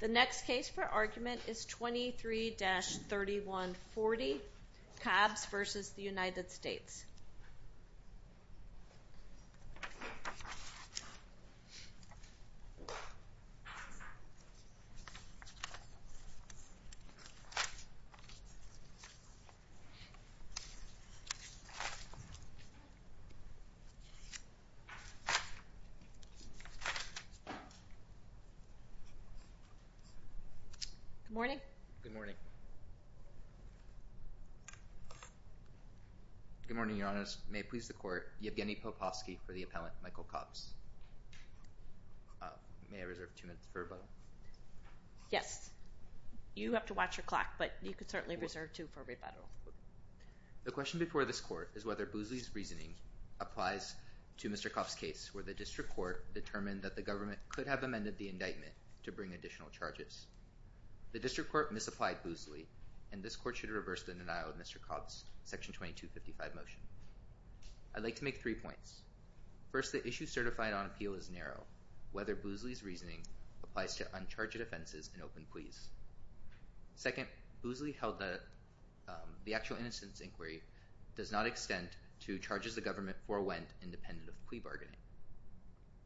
The next case for argument is 23-3140 Cobbs v. United States Good morning. Good morning. Good morning, Your Honor. May it please the court, Yevgeny Popovsky for the appellant, Michael Cobbs. May I reserve two minutes for rebuttal? Yes. You have to watch your clock, but you could certainly reserve two for rebuttal. The question before this court is whether Boosley's reasoning applies to Mr. Cobbs' case, where the district court determined that the government could have amended the indictment to bring additional charges. The district court misapplied Boosley, and this court should reverse the denial of Mr. Cobbs' Section 2255 motion. I'd like to make three points. First, the issue certified on appeal is narrow. Whether Boosley's reasoning applies to uncharged offenses and open pleas? Second, Boosley held that the actual innocence inquiry does not extend to charges the government forewent independent of plea bargaining.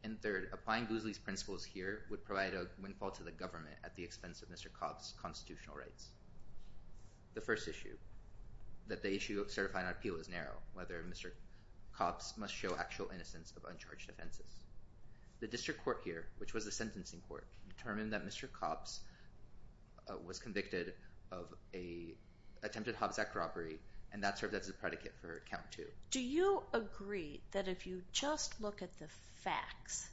And third, applying Boosley's principles here would provide a windfall to the government at the expense of Mr. Cobbs' constitutional rights. The first issue, that the issue of certified on appeal is narrow, whether Mr. Cobbs must show actual innocence of uncharged offenses. The district court here, which was the sentencing court, determined that Mr. Cobbs was convicted of an attempted Hobbs Act robbery, and that served as a predicate for count two. Do you agree that if you just look at the facts,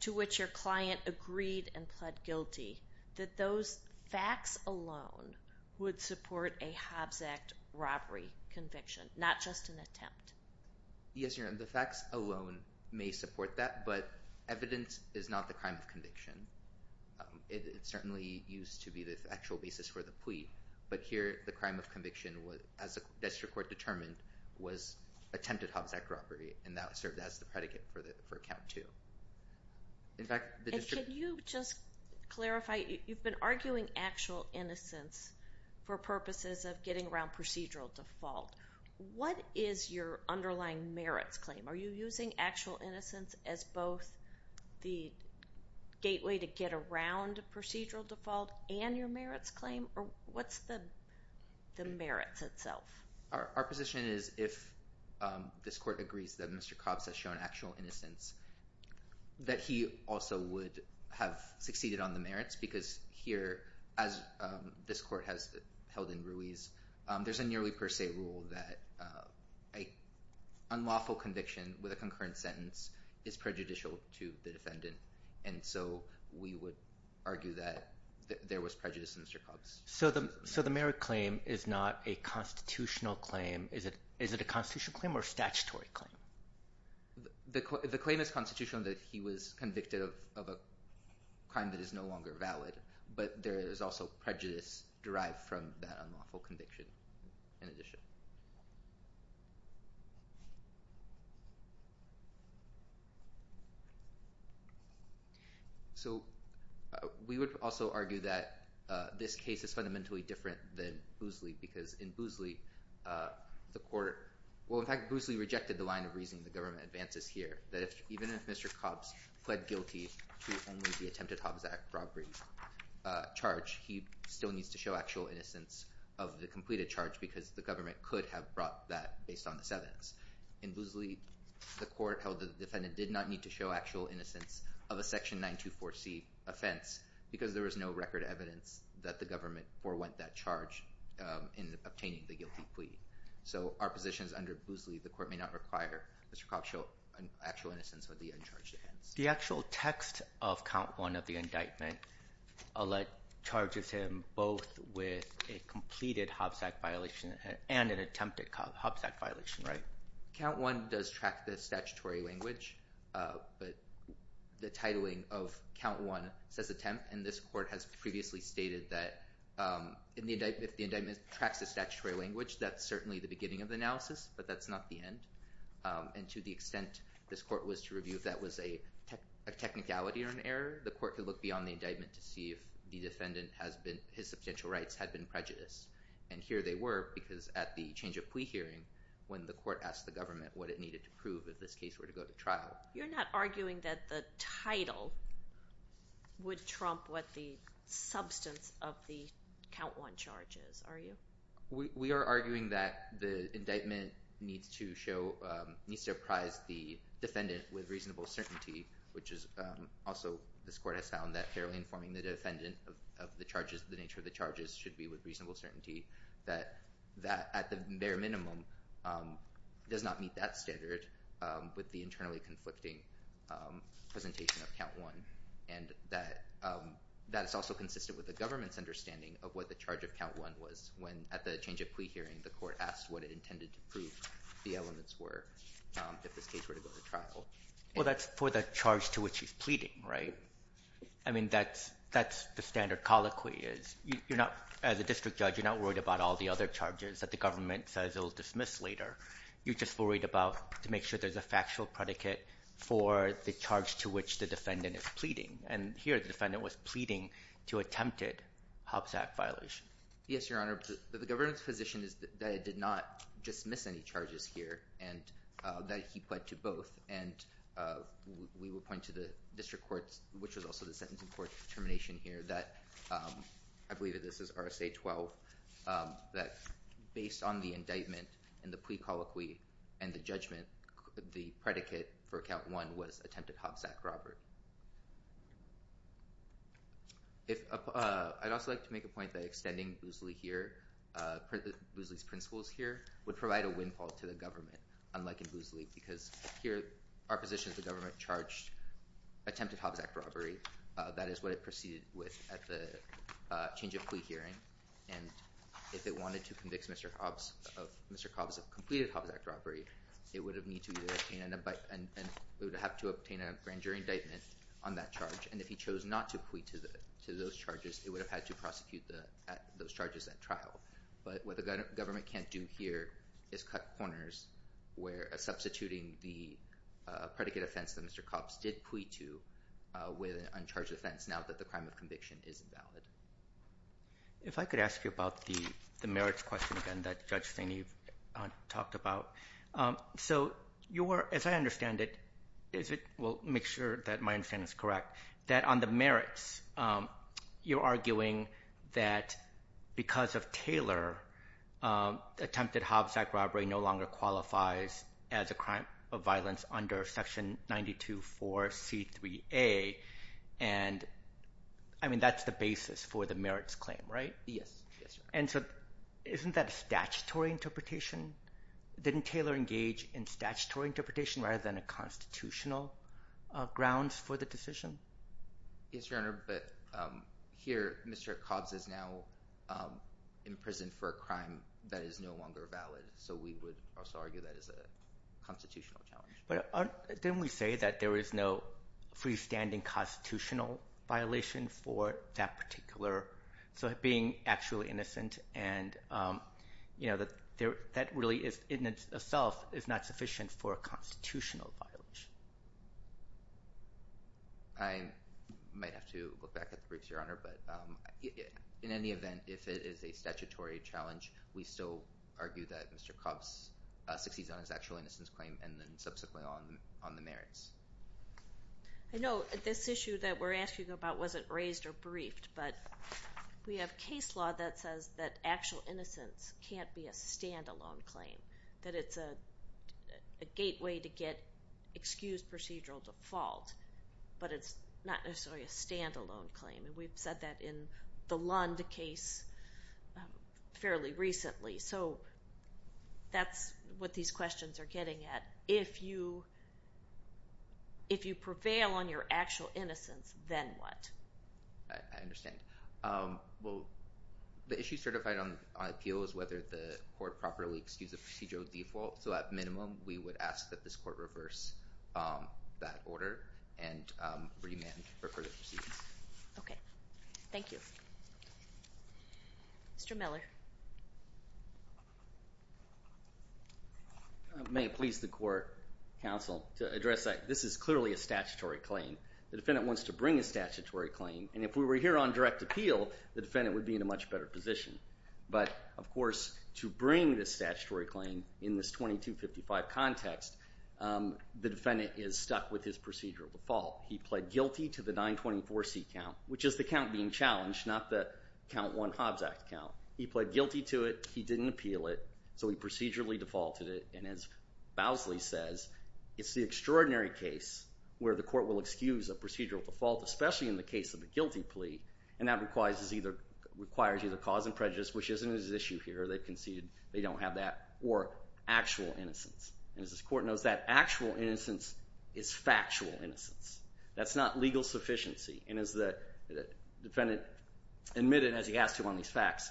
to which your client agreed and pled guilty, that those facts alone would support a Hobbs Act robbery conviction, not just an attempt? Yes, Your Honor, the facts alone may support that, but evidence is not the crime of conviction. It certainly used to be the actual basis for the plea, but here the crime of conviction, as the district court determined, was attempted Hobbs Act robbery, and that served as the predicate for count two. And can you just clarify, you've been arguing actual innocence for purposes of getting around procedural default. What is your underlying merits claim? Are you using actual innocence as both the gateway to get around procedural default and your merits claim, or what's the merits itself? Our position is if this court agrees that Mr. Cobbs has shown actual innocence, that he also would have succeeded on the merits, because here, as this court has held in Ruiz, there's a nearly per se rule that an unlawful conviction with a concurrent sentence is prejudicial to the defendant, and so we would argue that there was prejudice in Mr. Cobbs. So the merit claim is not a constitutional claim. Is it a constitutional claim or a statutory claim? The claim is constitutional that he was convicted of a crime that is no longer a constitutional conviction in addition. So we would also argue that this case is fundamentally different than Boosley, because in Boosley, the court, well, in fact, Boosley rejected the line of reasoning the government advances here, that even if Mr. Cobbs pled guilty to only the attempted completed charge, because the government could have brought that based on the evidence. In Boosley, the court held that the defendant did not need to show actual innocence of a section 924C offense, because there was no record evidence that the government forwent that charge in obtaining the guilty plea. So our position is under Boosley, the court may not require Mr. Cobbs show actual innocence of the uncharged offense. The actual text of count one of the indictment charges him both with a completed Hobbs Act violation and an attempted Hobbs Act violation, right? Count one does track the statutory language, but the titling of count one says attempt, and this court has previously stated that if the indictment tracks the statutory language, that's certainly the beginning of the analysis, but that's not the end. And to the extent this court was to review if that was a technicality or an error, the court could look beyond the indictment to see if the defendant his substantial rights had been prejudiced. And here they were, because at the change of plea hearing when the court asked the government what it needed to prove if this case were to go to trial. You're not arguing that the title would trump what the substance of the count one charges, are you? We are arguing that the indictment needs to apprise the defendant with reasonable certainty, which is also this court has found that fairly informing the defendant of the charges, the nature of the charges should be with reasonable certainty, that that at the bare minimum does not meet that standard with the internally conflicting presentation of count one, and that that is also consistent with the government's understanding of what the charge of count one was when at the change of plea hearing the court asked what it intended to prove the elements were if this case were to go to trial. Well that's for the charge to which he's pleading, right? I mean that's the standard colloquy is, you're not, as a district judge, you're not worried about all the other charges that the government says it'll dismiss later. You're just worried about to make sure there's a factual predicate for the charge to which the defendant is pleading. And here the defendant was pleading to attempted Hobbs Act violation. Yes, your honor. The government's position is that it did not dismiss any charges here, and that he pled to both, and we will point to the district courts, which was also the sentencing court's determination here that, I believe that this is RSA 12, that based on the indictment and the plea colloquy and the judgment, the predicate for count one was attempted Hobbs Act robbery. If I'd also like to make a point that extending Boosley here, Boosley's principles here would provide a windfall to the government, unlike in Boosley, because here our position is the government charged attempted Hobbs Act robbery. That is what it proceeded with at the change of plea hearing, and if they wanted to convict Mr. Hobbs of Mr. Cobbs of completed Hobbs Act robbery, it would have needed to be obtained, and we would have to obtain a grand jury indictment on that charge, and if he chose not to plea to the to those charges, they would have had to prosecute those charges at trial, but what the government can't do here is cut corners where substituting the predicate offense that Mr. Cobbs did plea to with an uncharged offense, now that the crime of conviction is invalid. If I could ask you about the merits question again that Judge Staney talked about. So you were, as I understand it, is it, well make sure that my understanding is correct, that on the merits, you're arguing that because of Taylor, attempted Hobbs Act robbery no longer qualifies as a crime of violence under section 92 for c3a, and I mean that's the basis for the merits claim, right? Yes. And so isn't that a statutory interpretation? Didn't Taylor engage in statutory interpretation rather than a constitutional grounds for the decision? Yes, Your Honor, but here Mr. Cobbs is now in prison for a crime that is no longer valid, so we would also argue that is a constitutional challenge. But didn't we say that there is no freestanding constitutional violation for that particular, so being actually innocent, and you know that there really is in itself is not sufficient for a constitutional violation. I might have to look back at the briefs, Your Honor, but in any event if it is a statutory challenge we still argue that Mr. Cobbs succeeds on his actual innocence claim and then subsequently on the merits. I know this issue that we're asking about wasn't raised or briefed, but we have case law that says that actual innocence can't be a standalone claim, that it's a gateway to get excused procedural default, but it's not necessarily a standalone claim, and we've said that in the Lund case fairly recently. So that's what these questions are getting at. If you prevail on your actual appeal is whether the court properly excuses the procedural default, so at minimum we would ask that this court reverse that order and remand for further proceedings. Okay, thank you. Mr. Miller. May it please the court, counsel, to address that this is clearly a statutory claim. The defendant wants to bring a statutory claim, and if we were here on direct appeal the defendant would be in a much better position, but of course to bring this statutory claim in this 2255 context, the defendant is stuck with his procedural default. He pled guilty to the 924C count, which is the count being challenged, not the Count 1 Hobbs Act count. He pled guilty to it, he didn't appeal it, so he procedurally defaulted it, and as Bowsley says, it's the extraordinary case where the court will excuse a procedural default, especially in the case of a guilty plea, and that requires either cause and prejudice, which isn't an issue here, they conceded they don't have that, or actual innocence, and as this court knows that actual innocence is factual innocence. That's not legal sufficiency, and as the defendant admitted as he asked you on these facts,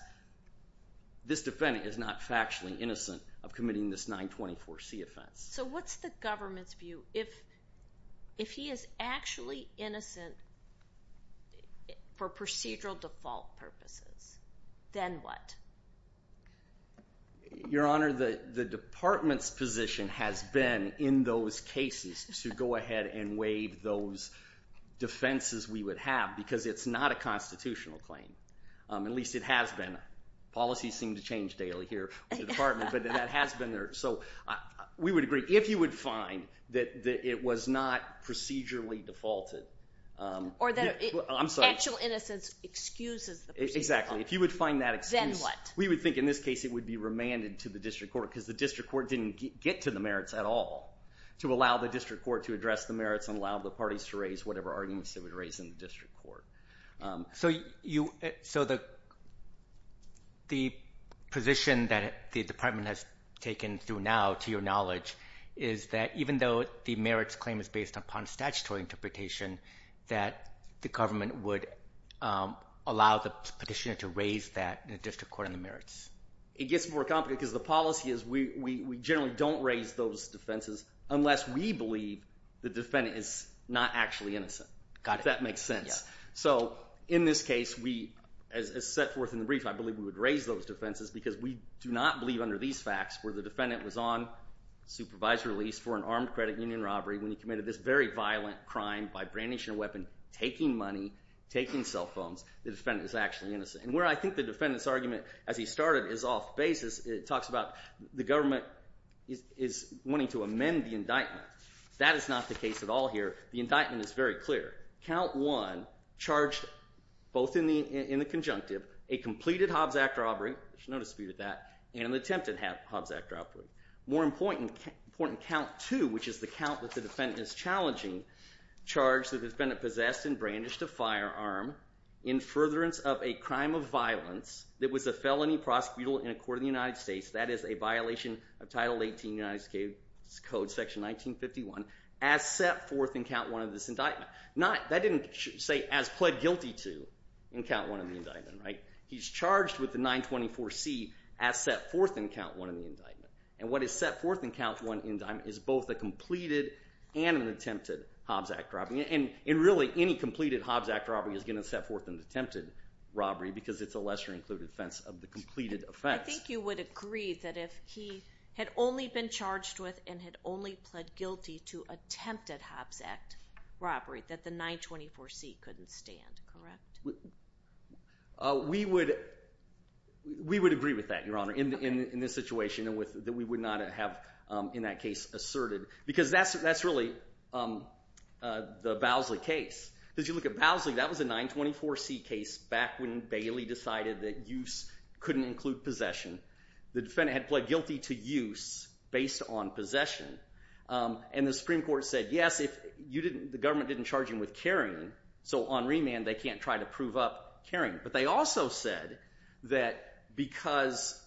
this defendant is not factually innocent of committing this 924C offense. So what's the government's view if he is actually innocent for procedural default purposes? Then what? Your Honor, the department's position has been in those cases to go ahead and waive those defenses we would have, because it's not a constitutional claim. At least it has been. Policies seem to change daily here in the department, but that has been there. So we would agree, if you would find that it was not procedurally defaulted, or that actual innocence excuses the procedural default, then what? We would think in this case it would be remanded to the district court, because the district court didn't get to the merits at all to allow the district court to address the merits and allow the parties to raise whatever arguments they would in the district court. So the position that the department has taken through now, to your knowledge, is that even though the merits claim is based upon statutory interpretation, that the government would allow the petitioner to raise that in the district court on the merits. It gets more complicated, because the policy is we generally don't raise those defenses unless we believe the defendant is not actually innocent. Got it. That makes sense. So in this case, as set forth in the brief, I believe we would raise those defenses, because we do not believe under these facts, where the defendant was on supervisory release for an armed credit union robbery, when he committed this very violent crime by brandishing a weapon, taking money, taking cell phones, the defendant is actually innocent. And where I think the defendant's argument, as he started, is off-basis, it talks about the government is wanting to amend the indictment. That is not the case at all here. The indictment is very clear. Count 1 charged, both in the conjunctive, a completed Hobbs Act robbery, there's no dispute with that, and an attempted Hobbs Act robbery. More important, count 2, which is the count that the defendant is challenging, charged the defendant possessed and brandished a firearm in furtherance of a crime of violence that was a felony prosecutable in a court of the United States, that is a violation of Title 18 of the United States Code, Section 1951, as set forth in count 1 of this indictment. That didn't say as pled guilty to in count 1 of the indictment, right? He's charged with the 924C as set forth in count 1 of the indictment. And what is set forth in count 1 of the indictment is both a completed and an attempted Hobbs Act robbery. And really, any completed Hobbs Act robbery is going to set forth an attempted robbery, because it's a lesser-included offense of the completed offense. I think you would agree that if he had only been charged with and had only pled guilty to attempted Hobbs Act robbery, that the 924C couldn't stand, correct? We would agree with that, Your Honor, in this situation, that we would not have, in that case, asserted. Because that's really the Bowsley case. If you look at Bowsley, that was a 924C case back when Bailey decided that use couldn't include possession. The defendant had pled guilty to use based on possession. And the Supreme Court said, yes, if the government didn't charge him with carrying, so on remand, they can't try to prove up carrying. But they also said that because,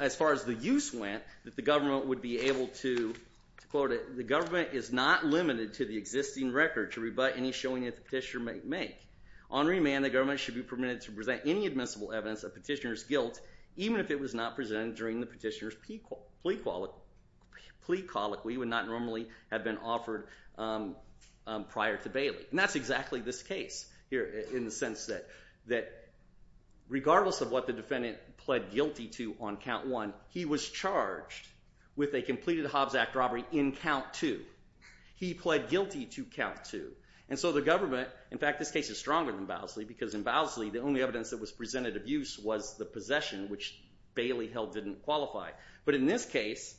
as far as the use went, that the government would be able to, to quote it, the government is not limited to the existing record to rebut any showing that the petitioner may make. On remand, the government should be permitted to present any admissible evidence of petitioner's guilt, even if it was not presented during the petitioner's plea colloquy would not normally have been offered prior to Bailey. And that's exactly this case here, in the sense that regardless of what the defendant pled guilty to on count one, he was charged with a completed Hobbs Act robbery in count two. He pled guilty to count two. And so the government, in fact, this case is stronger than Bowsley because in Bowsley, the only evidence that was presented of use was the possession, which Bailey held didn't qualify. But in this case,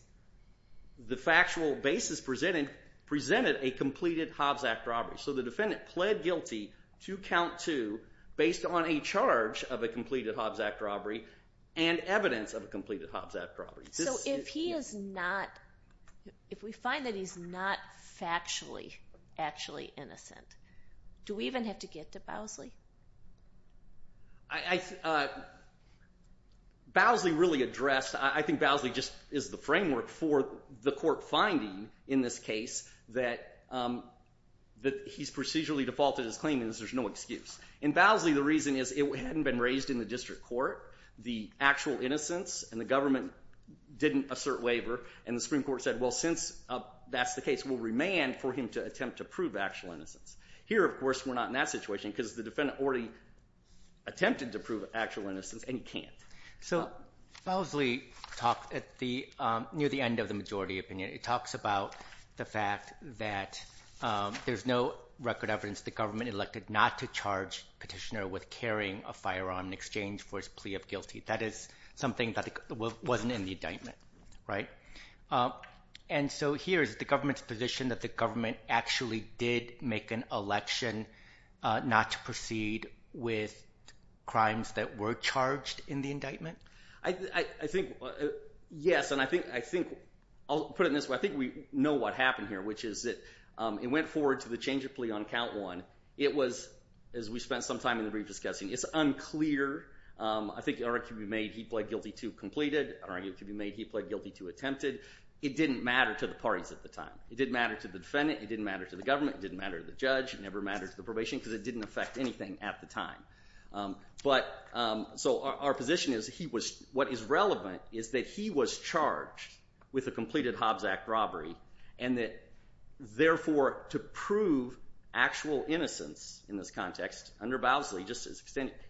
the factual basis presented a completed Hobbs Act robbery. So the defendant pled guilty to count two based on a charge of a completed Hobbs Act robbery and evidence of a completed Hobbs Act robbery. So if he is not, if we find that he's not factually, actually innocent, do we even have to get to Bowsley? Bowsley really addressed, I think Bowsley just is the framework for the court finding in this case that he's procedurally defaulted his innocence. There's no excuse. In Bowsley, the reason is it hadn't been raised in the district court, the actual innocence, and the government didn't assert waiver. And the Supreme Court said, well, since that's the case, we'll remand for him to attempt to prove actual innocence. Here, of course, we're not in that situation because the defendant already attempted to prove actual innocence and he can't. So Bowsley talked at the, near the end of the majority opinion, it talks about the fact that there's no record evidence the government elected not to charge petitioner with carrying a firearm in exchange for his plea of guilty. That is something that wasn't in the indictment, right? And so here's the government's position that the government actually did make an election not to proceed with crimes that were charged in the indictment? I think, yes, and I think, I'll put it in this way, I think we know what happened here, which is that it went forward to the change of plea on count one. It was, as we spent some time in the brief discussing, it's unclear. I think the argument could be made he pled guilty to completed. An argument could be made he pled guilty to attempted. It didn't matter to the parties at the time. It didn't matter to the defendant. It didn't matter to the government. It didn't matter to the judge. It never mattered to the probation because it didn't affect anything at the time. But, so our position is he was, what is relevant is that he was charged with a completed Hobbs Act robbery and that, therefore, to prove actual innocence in this context, under Bowsley,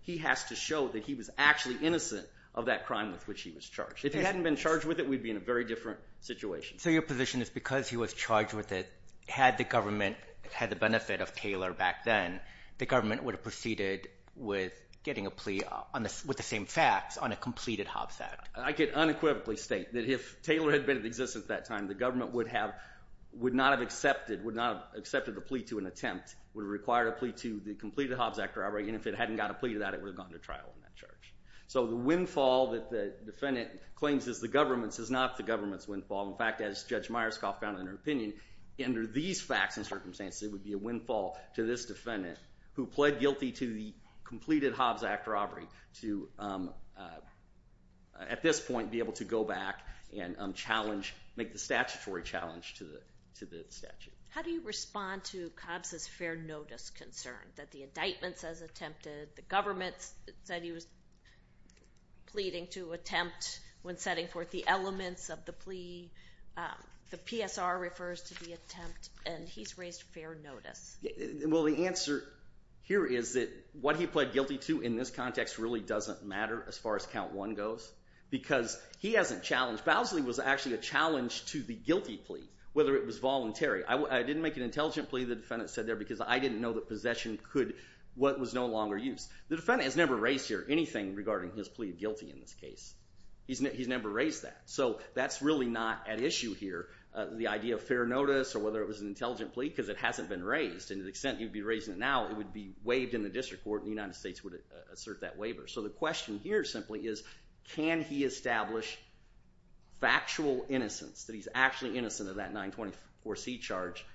he has to show that he was actually innocent of that crime with which he was charged. If he hadn't been charged with it, we'd be in a very different situation. So your position is because he was charged with it, had the government had the benefit of Taylor back then, the government would have proceeded with getting a plea with the same facts on a completed Hobbs Act? I could unequivocally state that if Taylor had been in existence at that time, the government would have, would not have accepted, would not have accepted the plea to an attempt. It would have required a plea to the completed Hobbs Act robbery and if it hadn't got a plea to that, it would have gone to trial in that charge. So the windfall that the defendant claims is the government's is not the government's windfall. In fact, as Judge Myerscough found in her opinion, under these facts and circumstances, it would be a windfall to this defendant who pled guilty to the completed Hobbs Act robbery to, at this point, be able to go back and challenge, make the statutory challenge to the statute. How do you respond to Hobbs' fair notice concern that the indictment says attempted, the government said he was pleading to attempt when setting forth the elements of the plea, the PSR refers to the attempt, and he's raised fair notice. Well, the answer here is that what he pled guilty to in this context really doesn't matter as far as count one goes because he hasn't challenged, Bowsley was actually a challenge to the guilty plea, whether it was voluntary. I didn't make an intelligent plea, the defendant said there, because I didn't know that possession could, was no longer used. The defendant has never raised here anything regarding his plea of guilty in this case. He's never raised that, so that's really not at issue here, the idea of fair notice or whether it was an intelligent plea because it hasn't been raised. And to the extent you'd be raising it now, it would be waived in the district court and the United States would assert that waiver. So the question here simply is, can he establish factual innocence, that he's actually innocent of that 924C charge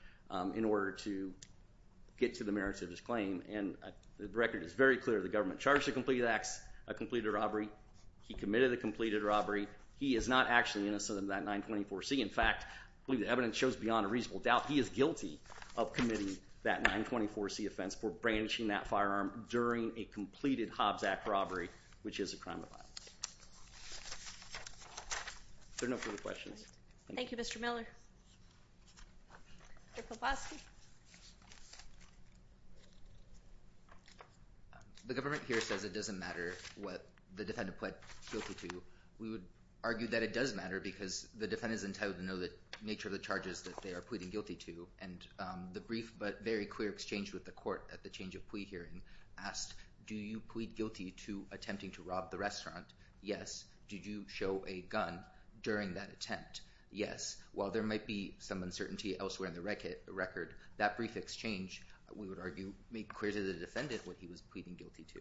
in order to get to the merits of his claim? And the record is very clear, the government charged the completed acts, a completed robbery. He committed a completed robbery. He is not actually innocent of that 924C. In fact, I believe the evidence shows beyond a reasonable doubt he is guilty of committing that 924C offense for branching that firearm during a completed Hobbs Act robbery, which is a crime of violence. Is there no further questions? Thank you, Mr. Miller. Mr. Kowalski? The government here says it doesn't matter what the defendant pled guilty to. We would argue that it does matter because the defendant is entitled to know the nature of the charges that they are pleading guilty to. And the brief but very clear exchange with the court at the change of plea hearing asked, do you plead guilty to attempting to rob the restaurant? Yes. Did you show a gun during that attempt? Yes. While there might be some uncertainty elsewhere in the record, that brief exchange, we would argue, made clear to the defendant what he was pleading guilty to.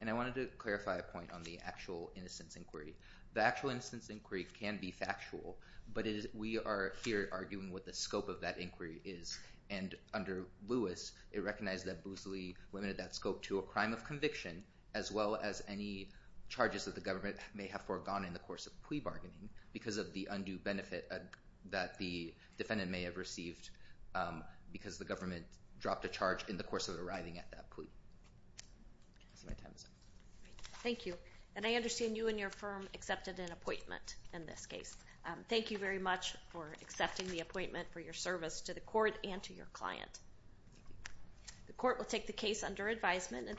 And I wanted to clarify a point on the actual innocence inquiry. The actual innocence inquiry can be factual, but we are here arguing what the scope of that inquiry is. And under Lewis, it recognized that Boosley limited that scope to a crime of conviction, as well as any charges that the government may have foregone in the course of plea bargaining, because of the undue benefit that the defendant may have received because the government dropped a charge in the course of arriving at that plea. Thank you. And I understand you and your firm accepted an appointment in this case. Thank you very much for accepting the appointment for your service to the court and to your client. The court will take the case under advisement.